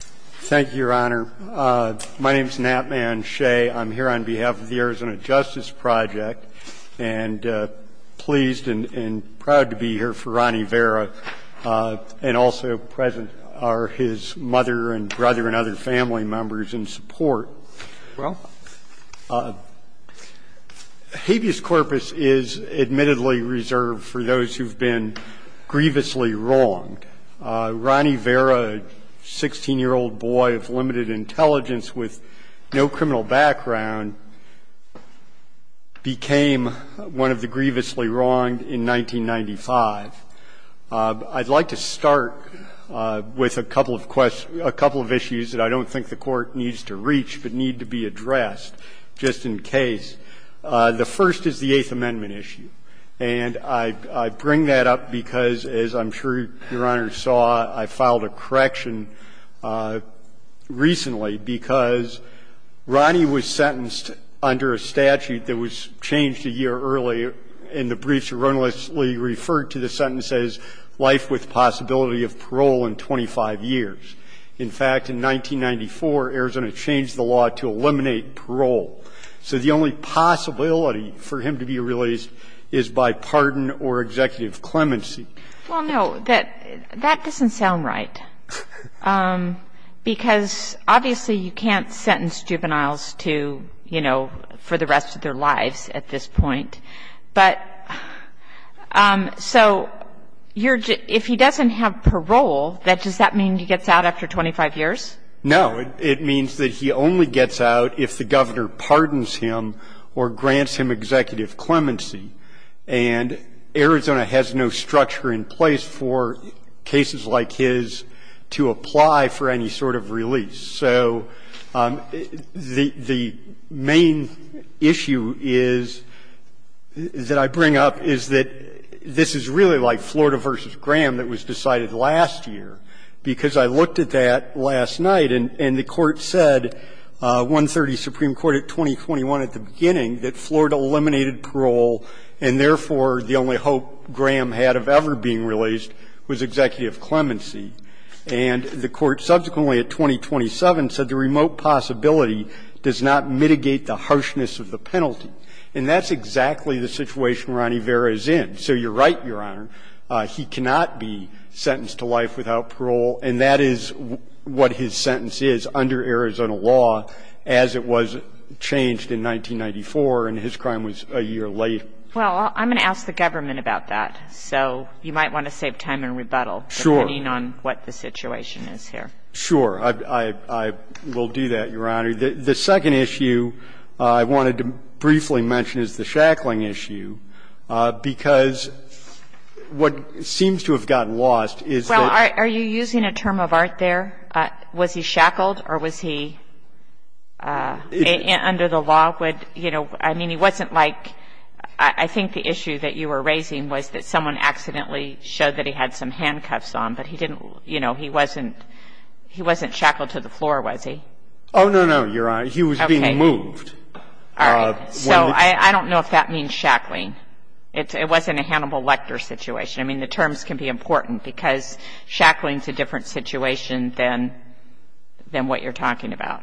Thank you, Your Honor. My name is Nat Man Shea. I'm here on behalf of the Arizona Justice Project and pleased and proud to be here for Ronnie Vera and also present are his mother and brother and other family members in support. Well. Habeas corpus is admittedly reserved for those who've been grievously wronged. Ronnie Vera, 16-year-old boy of limited intelligence with no criminal background, became one of the grievously wronged in 1995. I'd like to start with a couple of questions, a couple of issues that I don't think the Court needs to reach but need to be addressed just in case. The first is the Eighth Amendment issue. And I bring that up because, as I'm sure Your Honor saw, I filed a correction recently because Ronnie was sentenced under a statute that was changed a year early in the briefs of the Eighth Amendment. is not the only statute in Arizona that chronically referred to the sentence as life with possibility of parole in 25 years. In fact, in 1994, Arizona changed the law to eliminate parole. So the only possibility for him to be released is by pardon or executive clemency. Well, no. That doesn't sound right, because obviously you can't sentence juveniles to, you know, for the rest of their lives at this point. But so if he doesn't have parole, does that mean he gets out after 25 years? No. It means that he only gets out if the governor pardons him or grants him executive clemency, and Arizona has no structure in place for cases like his to apply for any sort of release. So the main issue is, that I bring up, is that this is really like Florida v. Graham that was decided last year, because I looked at that last night and the Court said, at 130 Supreme Court, at 2021, at the beginning, that Florida eliminated parole and, therefore, the only hope Graham had of ever being released was executive clemency. And the Court subsequently, at 2027, said the remote possibility does not mitigate the harshness of the penalty. And that's exactly the situation Ronnie Vera is in. So you're right, Your Honor, he cannot be sentenced to life without parole, and that is what his sentence is under Arizona law as it was changed in 1994 and his crime was a year late. Well, I'm going to ask the government about that. So you might want to save time and rebuttal. Sure. Depending on what the situation is here. Sure. I will do that, Your Honor. The second issue I wanted to briefly mention is the Shackling issue, because what seems to have gotten lost is that the Shackling case. I'm going to start there. Was he shackled or was he under the law? I mean, he wasn't like, I think the issue that you were raising was that someone accidentally showed that he had some handcuffs on, but he didn't, you know, he wasn't shackled to the floor, was he? Oh, no, no, Your Honor. He was being moved. All right. So I don't know if that means shackling. It wasn't a Hannibal Lecter situation. I mean, the terms can be important, because shackling is a different situation than what you're talking about.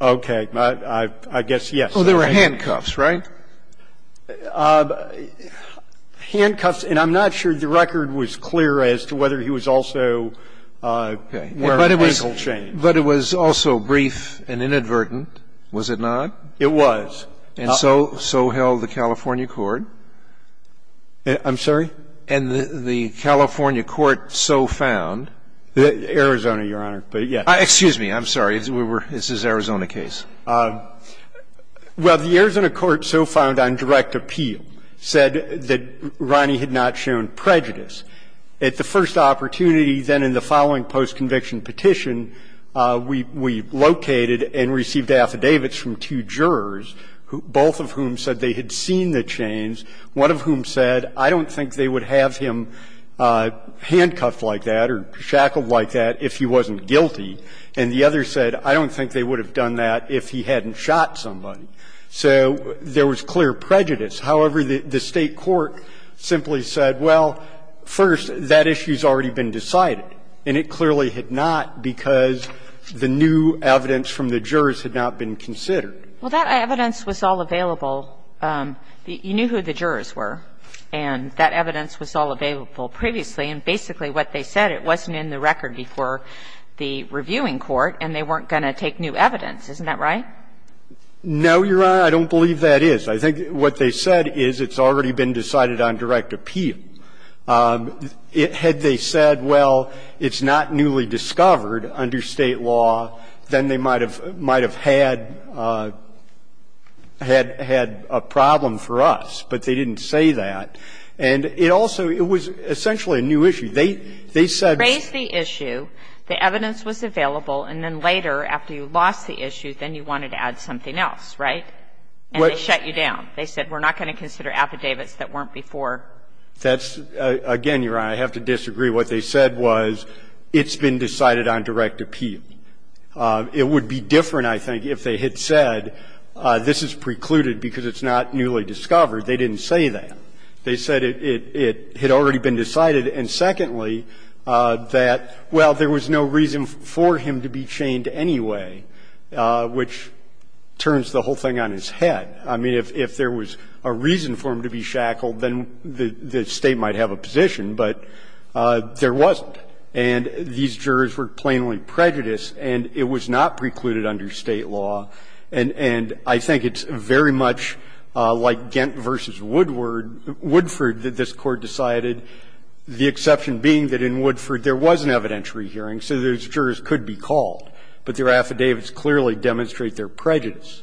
Okay. I guess, yes. Oh, there were handcuffs, right? Handcuffs. And I'm not sure the record was clear as to whether he was also wearing ankle chains. But it was also brief and inadvertent, was it not? It was. And so held the California court. I'm sorry? And the California court so found. Arizona, Your Honor. But, yes. Excuse me. I'm sorry. This is an Arizona case. Well, the Arizona court so found on direct appeal said that Ronnie had not shown prejudice. At the first opportunity, then in the following post-conviction petition, we located and received affidavits from two jurors, both of whom said they had seen the chains, one of whom said, I don't think they would have him handcuffed like that or shackled like that if he wasn't guilty. And the other said, I don't think they would have done that if he hadn't shot somebody. So there was clear prejudice. However, the State court simply said, well, first, that issue has already been decided. And it clearly had not because the new evidence from the jurors had not been considered. Well, that evidence was all available. You knew who the jurors were. And that evidence was all available previously. And basically what they said, it wasn't in the record before the reviewing court and they weren't going to take new evidence. Isn't that right? No, Your Honor. I don't believe that is. I think what they said is it's already been decided on direct appeal. Had they said, well, it's not newly discovered under State law, then they might have had a problem for us, but they didn't say that. And it also, it was essentially a new issue. They said. Raised the issue, the evidence was available, and then later, after you lost the issue, then you wanted to add something else, right? And they shut you down. They said, we're not going to consider affidavits that weren't before. That's, again, Your Honor, I have to disagree. What they said was it's been decided on direct appeal. It would be different, I think, if they had said this is precluded because it's not newly discovered. They didn't say that. They said it had already been decided. And secondly, that, well, there was no reason for him to be chained anyway, which turns the whole thing on his head. I mean, if there was a reason for him to be shackled, then the State might have a position, but there wasn't. And these jurors were plainly prejudiced, and it was not precluded under State law. And I think it's very much like Gent v. Woodward, Woodford, that this Court decided, the exception being that in Woodford there was an evidentiary hearing, so those jurors could be called, but their affidavits clearly demonstrate their prejudice.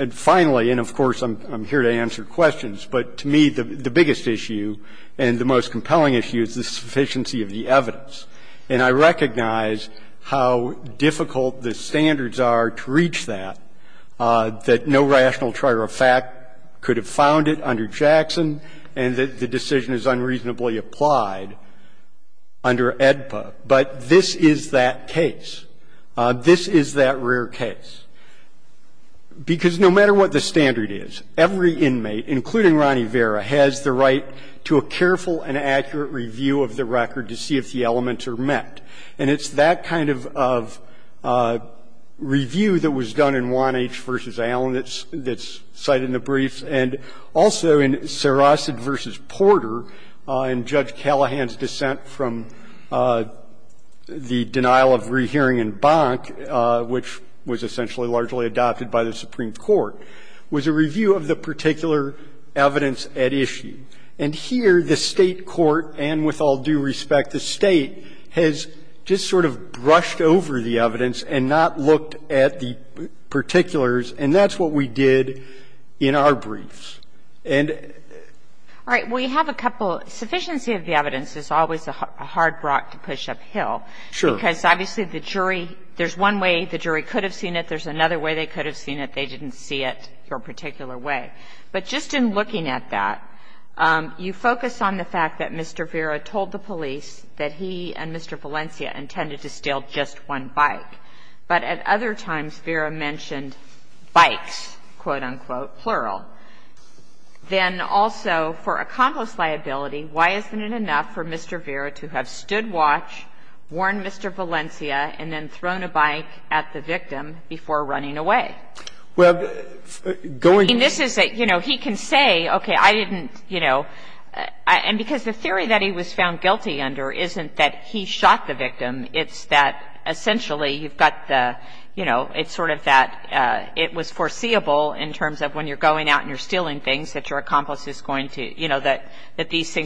And finally, and of course, I'm here to answer questions, but to me, the biggest issue and the most compelling issue is the sufficiency of the evidence. And I recognize how difficult the standards are to reach that, that no rational trier of fact could have found it under Jackson, and that the decision is unreasonably applied under AEDPA. But this is that case. This is that rare case. Because no matter what the standard is, every inmate, including Ronnie Vera, has the right to a careful and accurate review of the record to see if the elements are met. And it's that kind of review that was done in Wannach v. Allen that's cited in the briefs, and also in Sarosad v. Porter in Judge Callahan's dissent from the denial of rehearing in Bonk, which was essentially largely adopted by the Supreme Court, was a review of the particular evidence at issue. And here, the State court, and with all due respect, the State, has just sort of brushed over the evidence and not looked at the particulars, and that's what we did in our briefs. And the other thing that's important to note is that there's a lot of evidence in the State court. There's a lot of evidence in the State court. There's a lot of evidence in the State court. And there's a lot of evidence in the State court that's not in the State court. And so you can't just look at it your particular way. But just in looking at that, you focus on the fact that Mr. Vera told the police that he and Mr. Valencia intended to steal just one bike. But at other times, Vera mentioned bikes, quote, unquote, plural. Then also, for a convict's liability, why isn't it enough for Mr. Vera to have stood watch, warned Mr. Valencia, and then thrown a bike at the victim before running away? I mean, this is a, you know, he can say, okay, I didn't, you know, and because the theory that he was found guilty under isn't that he shot the victim, it's that essentially you've got the, you know, it's sort of that it was foreseeable in terms of when you're going out and you're stealing things that your accomplice is going to commit.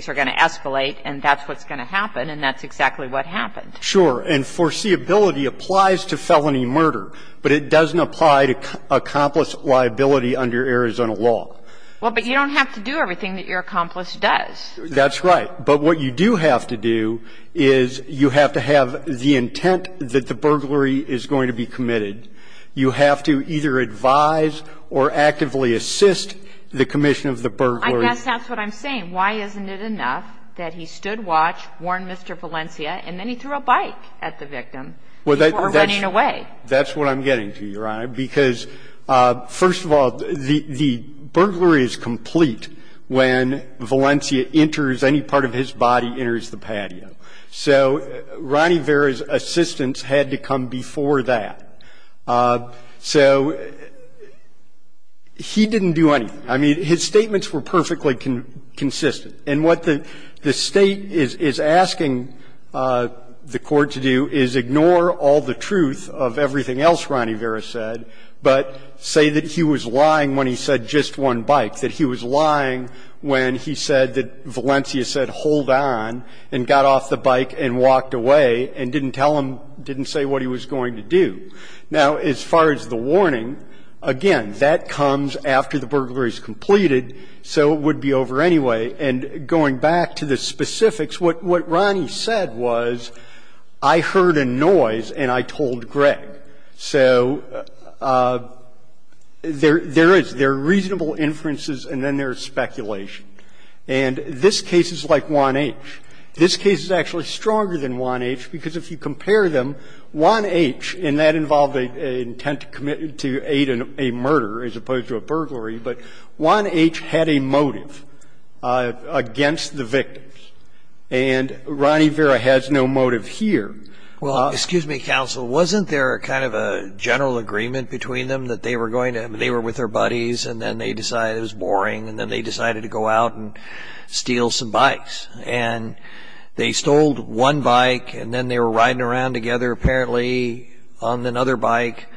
And that's exactly what happened. Sure. And foreseeability applies to felony murder, but it doesn't apply to accomplice liability under Arizona law. Well, but you don't have to do everything that your accomplice does. That's right. But what you do have to do is you have to have the intent that the burglary is going to be committed. You have to either advise or actively assist the commission of the burglary. Well, I guess that's what I'm saying. Why isn't it enough that he stood watch, warned Mr. Valencia, and then he threw a bike at the victim before running away? That's what I'm getting to, Your Honor, because, first of all, the burglary is complete when Valencia enters, any part of his body enters the patio. So Ronnie Vera's assistance had to come before that. So he didn't do anything. I mean, his statements were perfectly consistent. And what the State is asking the Court to do is ignore all the truth of everything else Ronnie Vera said, but say that he was lying when he said just one bike, that he was lying when he said that Valencia said hold on and got off the bike and walked away and didn't tell him, didn't say what he was going to do. Now, as far as the warning, again, that comes after the burglary is completed, so it would be over anyway. And going back to the specifics, what Ronnie said was, I heard a noise and I told Greg. So there is, there are reasonable inferences and then there is speculation. And this case is like 1H. This case is actually stronger than 1H because if you compare them, 1H, and that involved an intent to aid a murder as opposed to a burglary, but 1H had a motive against the victims. And Ronnie Vera has no motive here. Well, excuse me, counsel, wasn't there kind of a general agreement between them that they were going to, they were with their buddies and then they decided it was boring and then they decided to go out and steal some bikes? And they stole one bike and then they were riding around together apparently on another bike.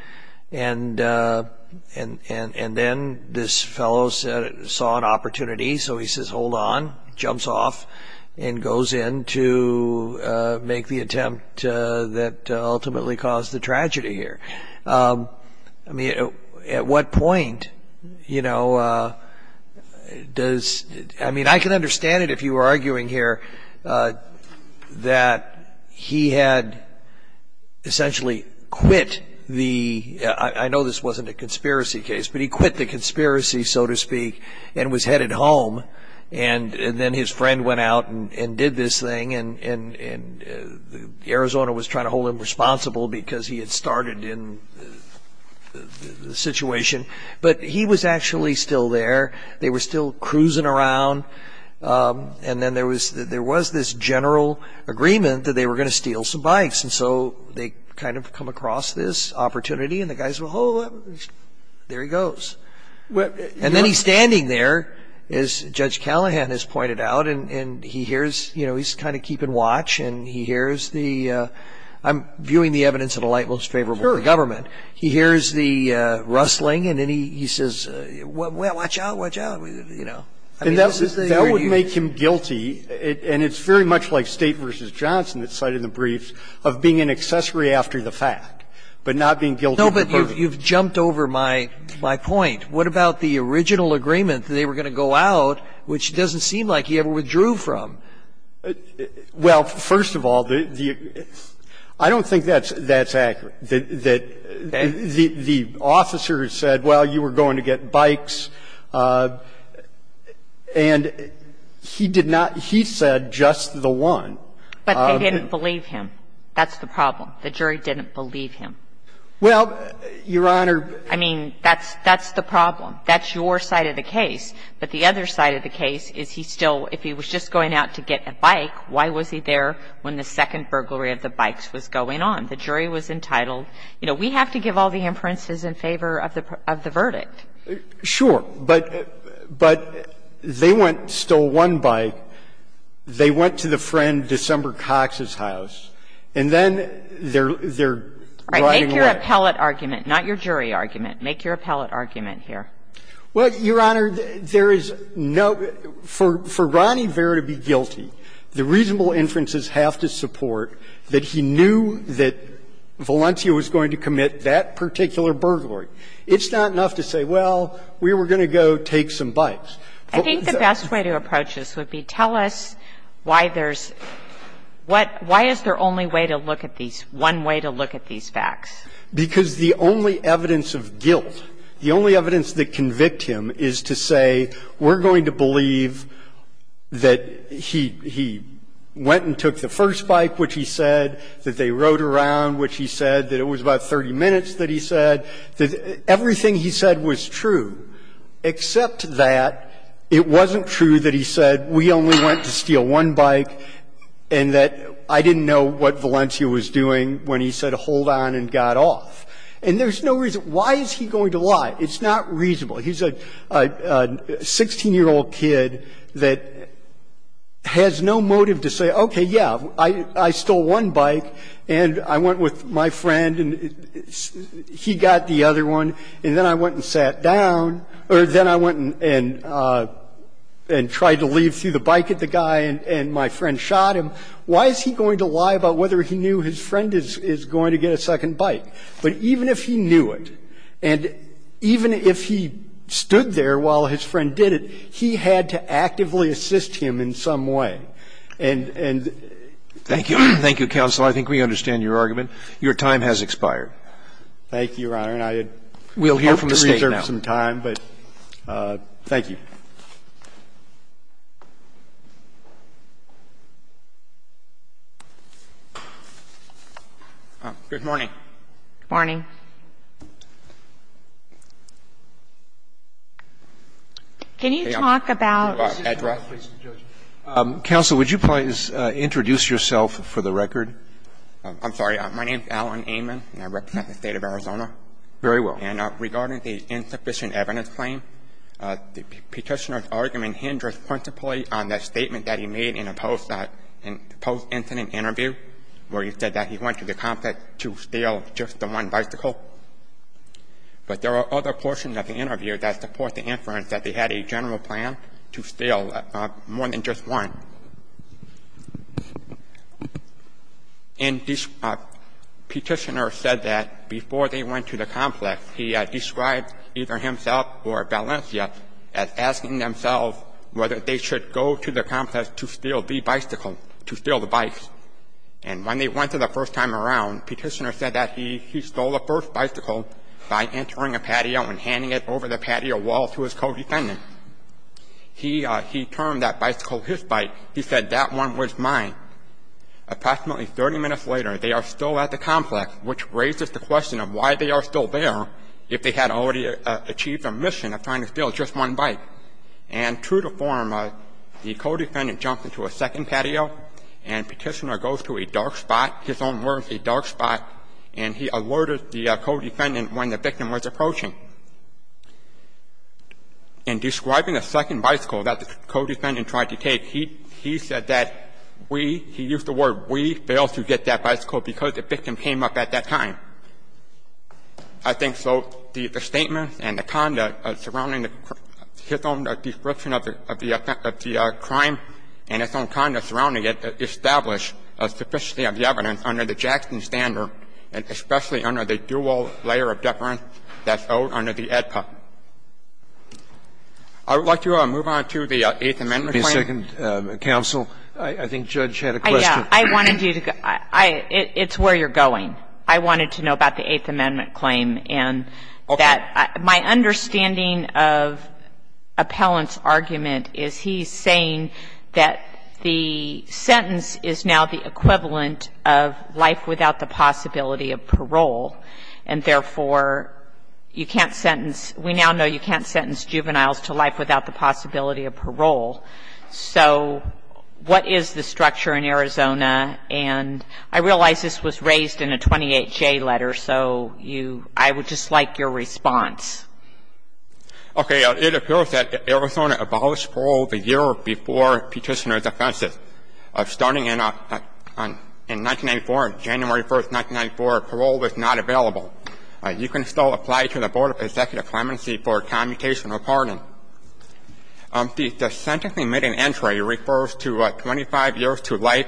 And then this fellow saw an opportunity, so he says, hold on, jumps off and goes in to make the attempt that ultimately caused the tragedy here. I mean, at what point, you know, does, I mean, I can understand it if you were arguing here that he had essentially quit the, I know this wasn't a conspiracy case, but he quit the conspiracy, so to speak, and was headed home. And then his friend went out and did this thing and Arizona was trying to hold him to the situation. But he was actually still there. They were still cruising around. And then there was this general agreement that they were going to steal some bikes. And so they kind of come across this opportunity and the guys go, oh, there he goes. And then he's standing there, as Judge Callahan has pointed out, and he hears, you know, he's kind of keeping watch and he hears the, I'm viewing the evidence as a light most favorable to the government. He hears the rustling and then he says, well, watch out, watch out, you know. I mean, this is the argument. And that would make him guilty, and it's very much like State v. Johnson that cited the briefs, of being an accessory after the fact, but not being guilty of the burden. No, but you've jumped over my point. What about the original agreement that they were going to go out, which doesn't seem like he ever withdrew from? Well, first of all, I don't think that's accurate, that the officer said, well, you were going to get bikes, and he did not he said just the one. But they didn't believe him. That's the problem. The jury didn't believe him. Well, Your Honor. I mean, that's the problem. That's your side of the case. But the other side of the case is he still, if he was just going out to get a bike, why was he there when the second burglary of the bikes was going on? The jury was entitled. You know, we have to give all the inferences in favor of the verdict. Sure. But they went, stole one bike. They went to the friend, December Cox's house. And then they're riding away. All right. Make your appellate argument, not your jury argument. Make your appellate argument here. Well, Your Honor, there is no – for Ronnie Vera to be guilty, the reasonable inferences have to support that he knew that Valencia was going to commit that particular burglary. It's not enough to say, well, we were going to go take some bikes. I think the best way to approach this would be tell us why there's – what – why is there only way to look at these, one way to look at these facts? Because the only evidence of guilt, the only evidence that convict him is to say we're going to believe that he went and took the first bike, which he said, that they rode around, which he said, that it was about 30 minutes that he said, that everything he said was true, except that it wasn't true that he said we only went to steal one And there's no reason – why is he going to lie? It's not reasonable. He's a 16-year-old kid that has no motive to say, okay, yeah, I stole one bike, and I went with my friend, and he got the other one, and then I went and sat down, or then I went and tried to leave through the bike at the guy, and my friend shot him. Why is he going to lie about whether he knew his friend is going to get a second bike? But even if he knew it, and even if he stood there while his friend did it, he had to actively assist him in some way. And the – Thank you. Thank you, counsel. I think we understand your argument. Your time has expired. Thank you, Your Honor. And I – We'll hear from the State now. I hope to reserve some time, but thank you. Good morning. Good morning. Can you talk about – Counsel, would you please introduce yourself for the record? I'm sorry. My name is Alan Amon, and I represent the State of Arizona. Petitioner's argument hinders principally on the statement that he made in a post-incident interview, where he said that he went to the complex to steal just the one bicycle. But there are other portions of the interview that support the inference that they had a general plan to steal more than just one. And Petitioner said that before they went to the complex, he described either himself or Valencia as asking themselves whether they should go to the complex to steal the bicycle, to steal the bikes. And when they went there the first time around, Petitioner said that he stole the first bicycle by entering a patio and handing it over the patio wall to his co-defendant. He termed that bicycle his bike. He said, that one was mine. Approximately 30 minutes later, they are still at the complex, which raises the question of why they are still there if they had already achieved their mission of trying to steal just one bike. And true to form, the co-defendant jumped into a second patio, and Petitioner goes to a dark spot, his own words, a dark spot, and he alerted the co-defendant when the victim was approaching. In describing the second bicycle that the co-defendant tried to take, he said that we, he used the word we, failed to get that bicycle because the victim came up at that time. I think, though, the statement and the conduct surrounding his own description of the crime and his own conduct surrounding it establish a sufficiency of the evidence under the Jackson standard, and especially under the dual layer of deference that's owed under the AEDPA. I would like to move on to the Eighth Amendment claim. Scalia. The second counsel. I think Judge had a question. I wanted you to go. It's where you're going. I wanted to know about the Eighth Amendment claim, and that my understanding of Appellant's argument is he's saying that the sentence is now the equivalent of life without the possibility of parole, and therefore, you can't sentence we now know you can't sentence juveniles to life without the possibility of parole. So what is the structure in Arizona? And I realize this was raised in a 28-J letter, so you, I would just like your response. Okay. It appears that Arizona abolished parole the year before Petitioner's Offensive. Starting in 1994, January 1st, 1994, parole was not available. You can still apply to the Board of Executive Clemency for commutation or pardon. The sentencing made in entry refers to 25 years to life,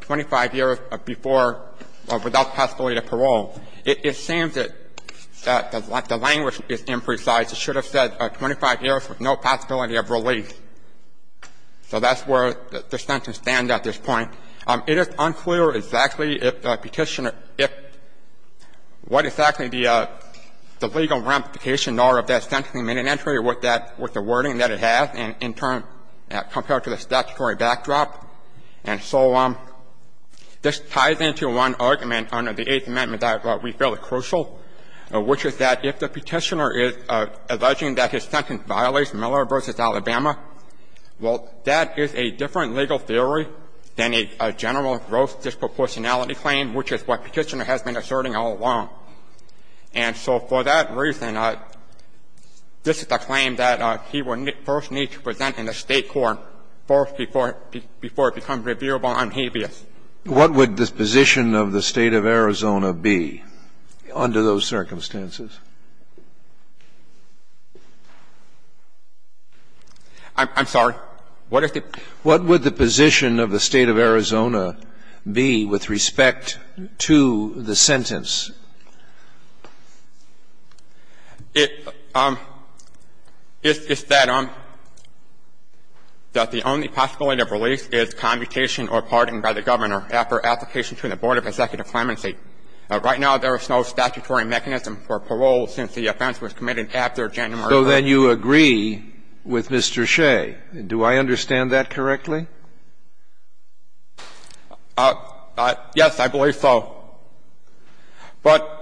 25 years before or without the possibility of parole. It seems that the language is imprecise. It should have said 25 years with no possibility of release. So that's where the sentence stands at this point. It is unclear exactly if Petitioner, if what exactly the legal ramifications are of that sentencing made in entry with that, with the wording that it has in turn compared to the statutory backdrop. And so this ties into one argument under the Eighth Amendment that we feel is crucial, which is that if the Petitioner is alleging that his sentence violates Miller v. Alabama, well, that is a different legal theory than a general gross disproportionality claim, which is what Petitioner has been asserting all along. And so for that reason, this is a claim that he will first need to present in the State court, first before it becomes reviewable on habeas. What would the position of the State of Arizona be under those circumstances? I'm sorry. What is the question? What would the position of the State of Arizona be with respect to the sentence that the Petitioner is alleging violates Miller v. Alabama? Is that the only possibility of release is commutation or pardoning by the Governor after application to the Board of Executive Clemency. Right now, there is no statutory mechanism for parole since the offense was committed after January 1st. So then you agree with Mr. Shea. Do I understand that correctly? Yes, I believe so. But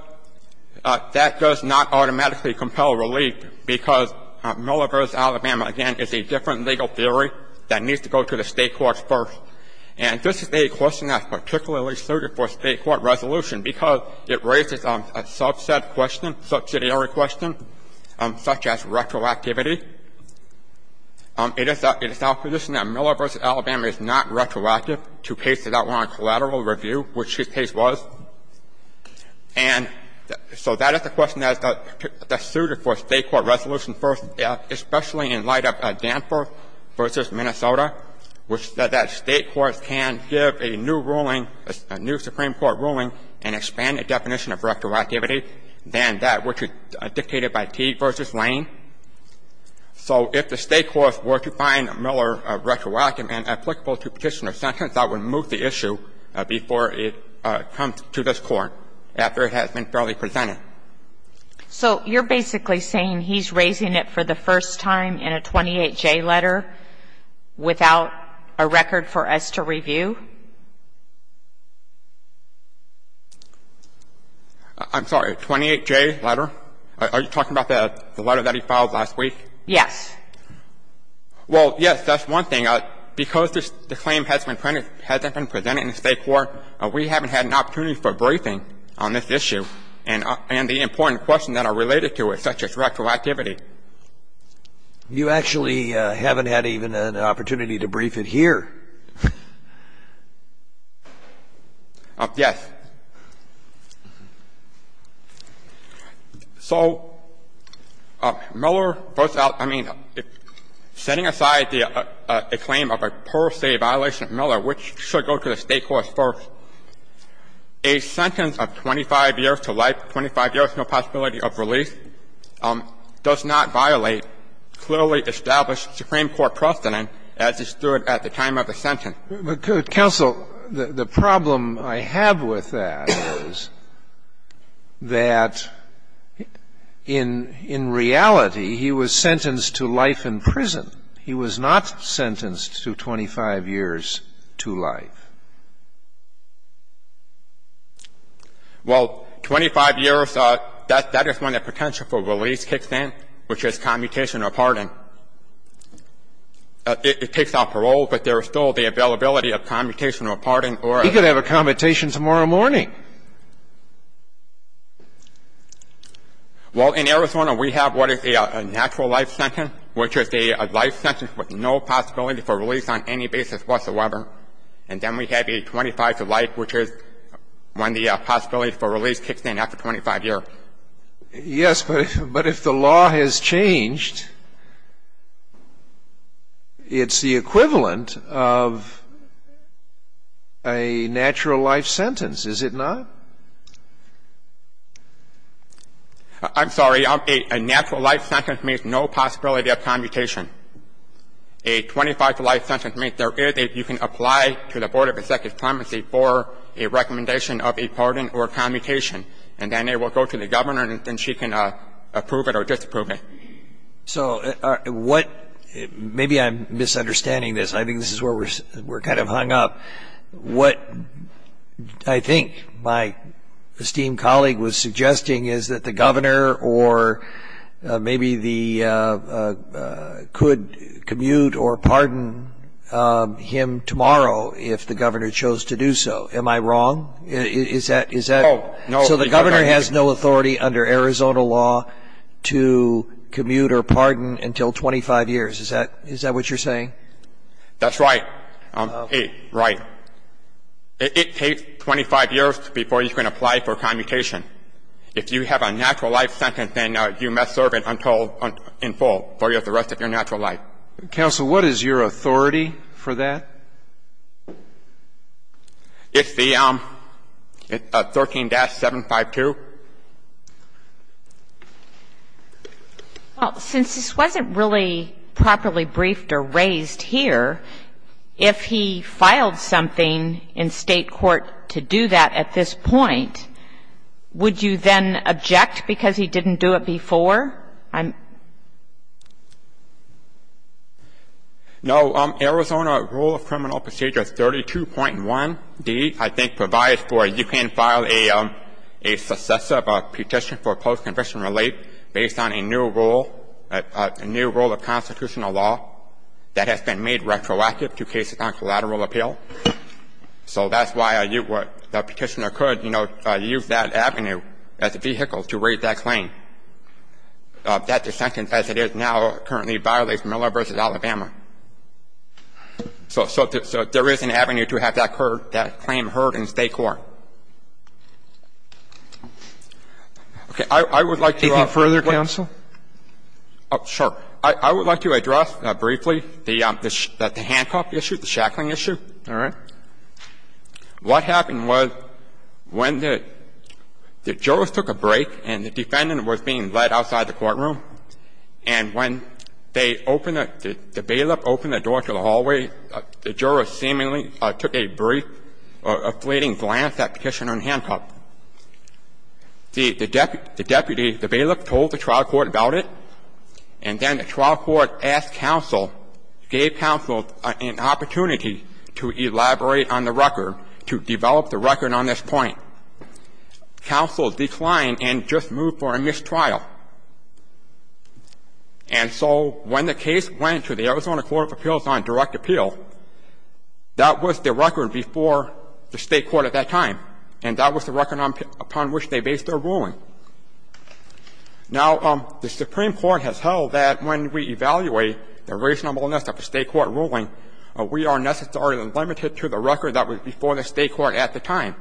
that does not automatically compel relief because Miller v. Alabama, again, is a different legal theory that needs to go to the State courts first. And this is a question that's particularly suited for State court resolution because it raises a subset question, subsidiary question, such as retroactivity. It is our position that Miller v. Alabama is not retroactive to cases outlawed in collateral review, which his case was. And so that is a question that's suited for State court resolution first, especially in light of Danforth v. Minnesota, which said that State courts can give a new ruling, a new Supreme Court ruling and expand the definition of retroactivity than that which is dictated by Teague v. Lane. So if the State courts were to find Miller retroactive and applicable to petition or sentence, I would move the issue before it comes to this Court after it has been thoroughly presented. So you're basically saying he's raising it for the first time in a 28J letter without a record for us to review? I'm sorry, 28J letter? Are you talking about the letter that he filed last week? Yes. Well, yes, that's one thing. Because the claim hasn't been presented in the State court, we haven't had an opportunity for briefing on this issue and the important questions that are related to it, such as retroactivity. You actually haven't had even an opportunity to brief it here. Yes. So Miller puts out — I mean, setting aside the claim of a per se violation of Miller, which should go to the State courts first, a sentence of 25 years to life, 25 years, no possibility of release, does not violate clearly established Supreme Court precedent as it stood at the time of the sentence. But, Counsel, the problem I have with that is that in reality, he was sentenced to life in prison. He was not sentenced to 25 years to life. Well, 25 years, that is when the potential for release kicks in, which is commutation or pardon. It takes out parole, but there is still the availability of commutation or pardon or a — He could have a commutation tomorrow morning. Well, in Arizona, we have what is a natural life sentence, which is a life sentence with no possibility for release on any basis whatsoever. And then we have a 25 to life, which is when the possibility for release kicks in after 25 years. Yes, but if the law has changed, it's the equivalent of a natural life sentence, is it not? I'm sorry. A natural life sentence means no possibility of commutation. A 25 to life sentence means there is a — you can apply to the Board of Executive and the governor, and she can approve it or disapprove it. So what — maybe I'm misunderstanding this. I think this is where we're kind of hung up. What I think my esteemed colleague was suggesting is that the governor or maybe the — could commute or pardon him tomorrow if the governor chose to do so. Am I wrong? Is that — No. So the governor has no authority under Arizona law to commute or pardon until 25 years. Is that what you're saying? That's right. Right. It takes 25 years before you can apply for commutation. If you have a natural life sentence, then you must serve it in full for the rest of your natural life. Counsel, what is your authority for that? It's the 13-752. Well, since this wasn't really properly briefed or raised here, if he filed something in State court to do that at this point, would you then object because he didn't do it before? No. Arizona Rule of Criminal Procedure 32.1D, I think, provides for — you can file a successive petition for post-conviction relief based on a new rule, a new rule of constitutional law that has been made retroactive to cases on collateral appeal. So that's why you would — the petitioner could, you know, use that avenue as a vehicle to raise that claim. That dissent, as it is now, currently violates Miller v. Alabama. So there is an avenue to have that claim heard in State court. Okay. I would like to — Anything further, counsel? Sure. I would like to address briefly the handcuff issue, the shackling issue. All right. What happened was when the jurors took a break and the defendant was being led outside the courtroom, and when they opened — the bailiff opened the door to the hallway, the jurors seemingly took a brief, afflating glance at petitioner in handcuff. The deputy, the bailiff, told the trial court about it, and then the trial court asked counsel, gave counsel an opportunity to elaborate on the record, to develop the record on this point. Counsel declined and just moved for a mistrial. And so when the case went to the Arizona Court of Appeals on direct appeal, that was the record before the State court at that time, and that was the record upon which they based their ruling. Now, the Supreme Court has held that when we evaluate the reasonableness of a State court ruling, we are necessarily limited to the record that was before the State court at the time.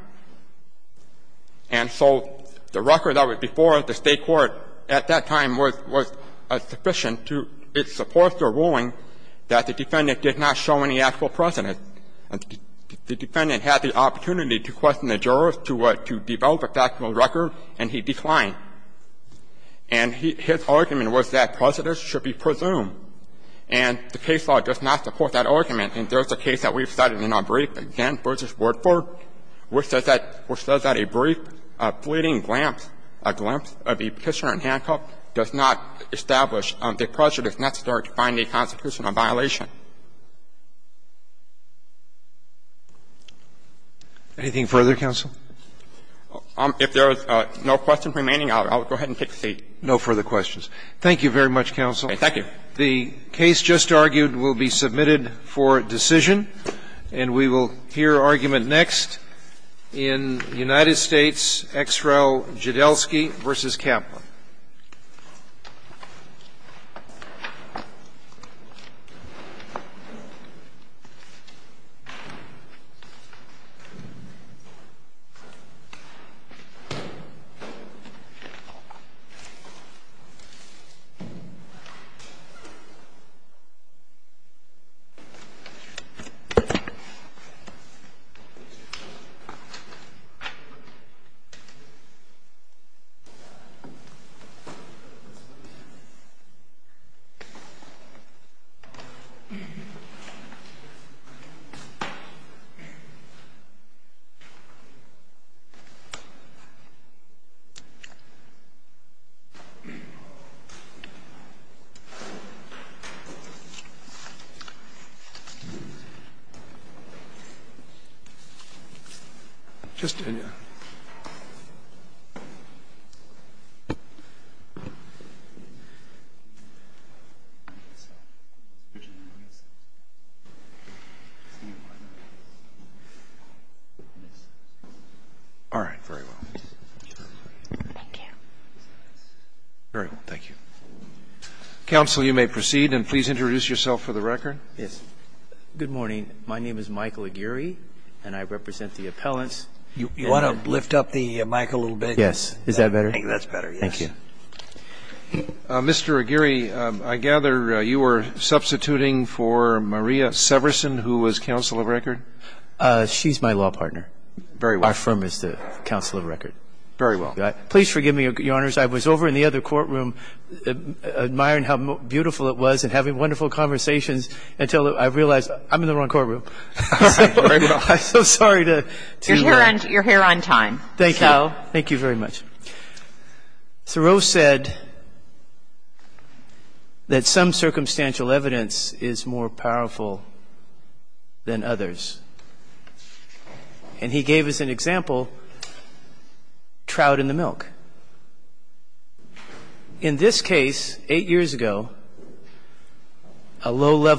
And so the record that was before the State court at that time was sufficient to — it supports their ruling that the defendant did not show any actual precedent. The defendant had the opportunity to question the jurors to develop a factual record, and he declined. And his argument was that precedents should be presumed. And the case law does not support that argument. And there's a case that we've cited in our brief, again, v. Wordford, which says that a brief, fleeting glance, a glimpse of the petitioner in handcuff does not establish that precedent is necessary to find a constitutional violation. Anything further, counsel? If there are no questions remaining, I'll go ahead and take a seat. Roberts. No further questions. Thank you very much, counsel. Thank you. The case just argued will be submitted for decision. And we will hear argument next in United States, X. Rel. Jodelsky v. Kaplan. Thank you, counsel. Just a minute. All right. Very well. Thank you. Very well. Thank you. Counsel, you may proceed, and please introduce yourself for the record. Yes. Good morning. My name is Michael Aguirre, and I represent the appellants. You want to lift up the mic a little bit? Is that better? I think that's better, yes. Thank you. Mr. Aguirre, I gather you were substituting for Maria Severson, who was counsel of record? She's my law partner. Very well. Our firm is the counsel of record. Very well. Please forgive me, Your Honors. I was over in the other courtroom admiring how beautiful it was and having wonderful conversations until I realized I'm in the wrong courtroom. All right. Very well. I'm so sorry to interrupt. You're here on time. Thank you. Well, thank you very much. Thoreau said that some circumstantial evidence is more powerful than others. And he gave us an example, trout in the milk. In this case, eight years ago, a low-level...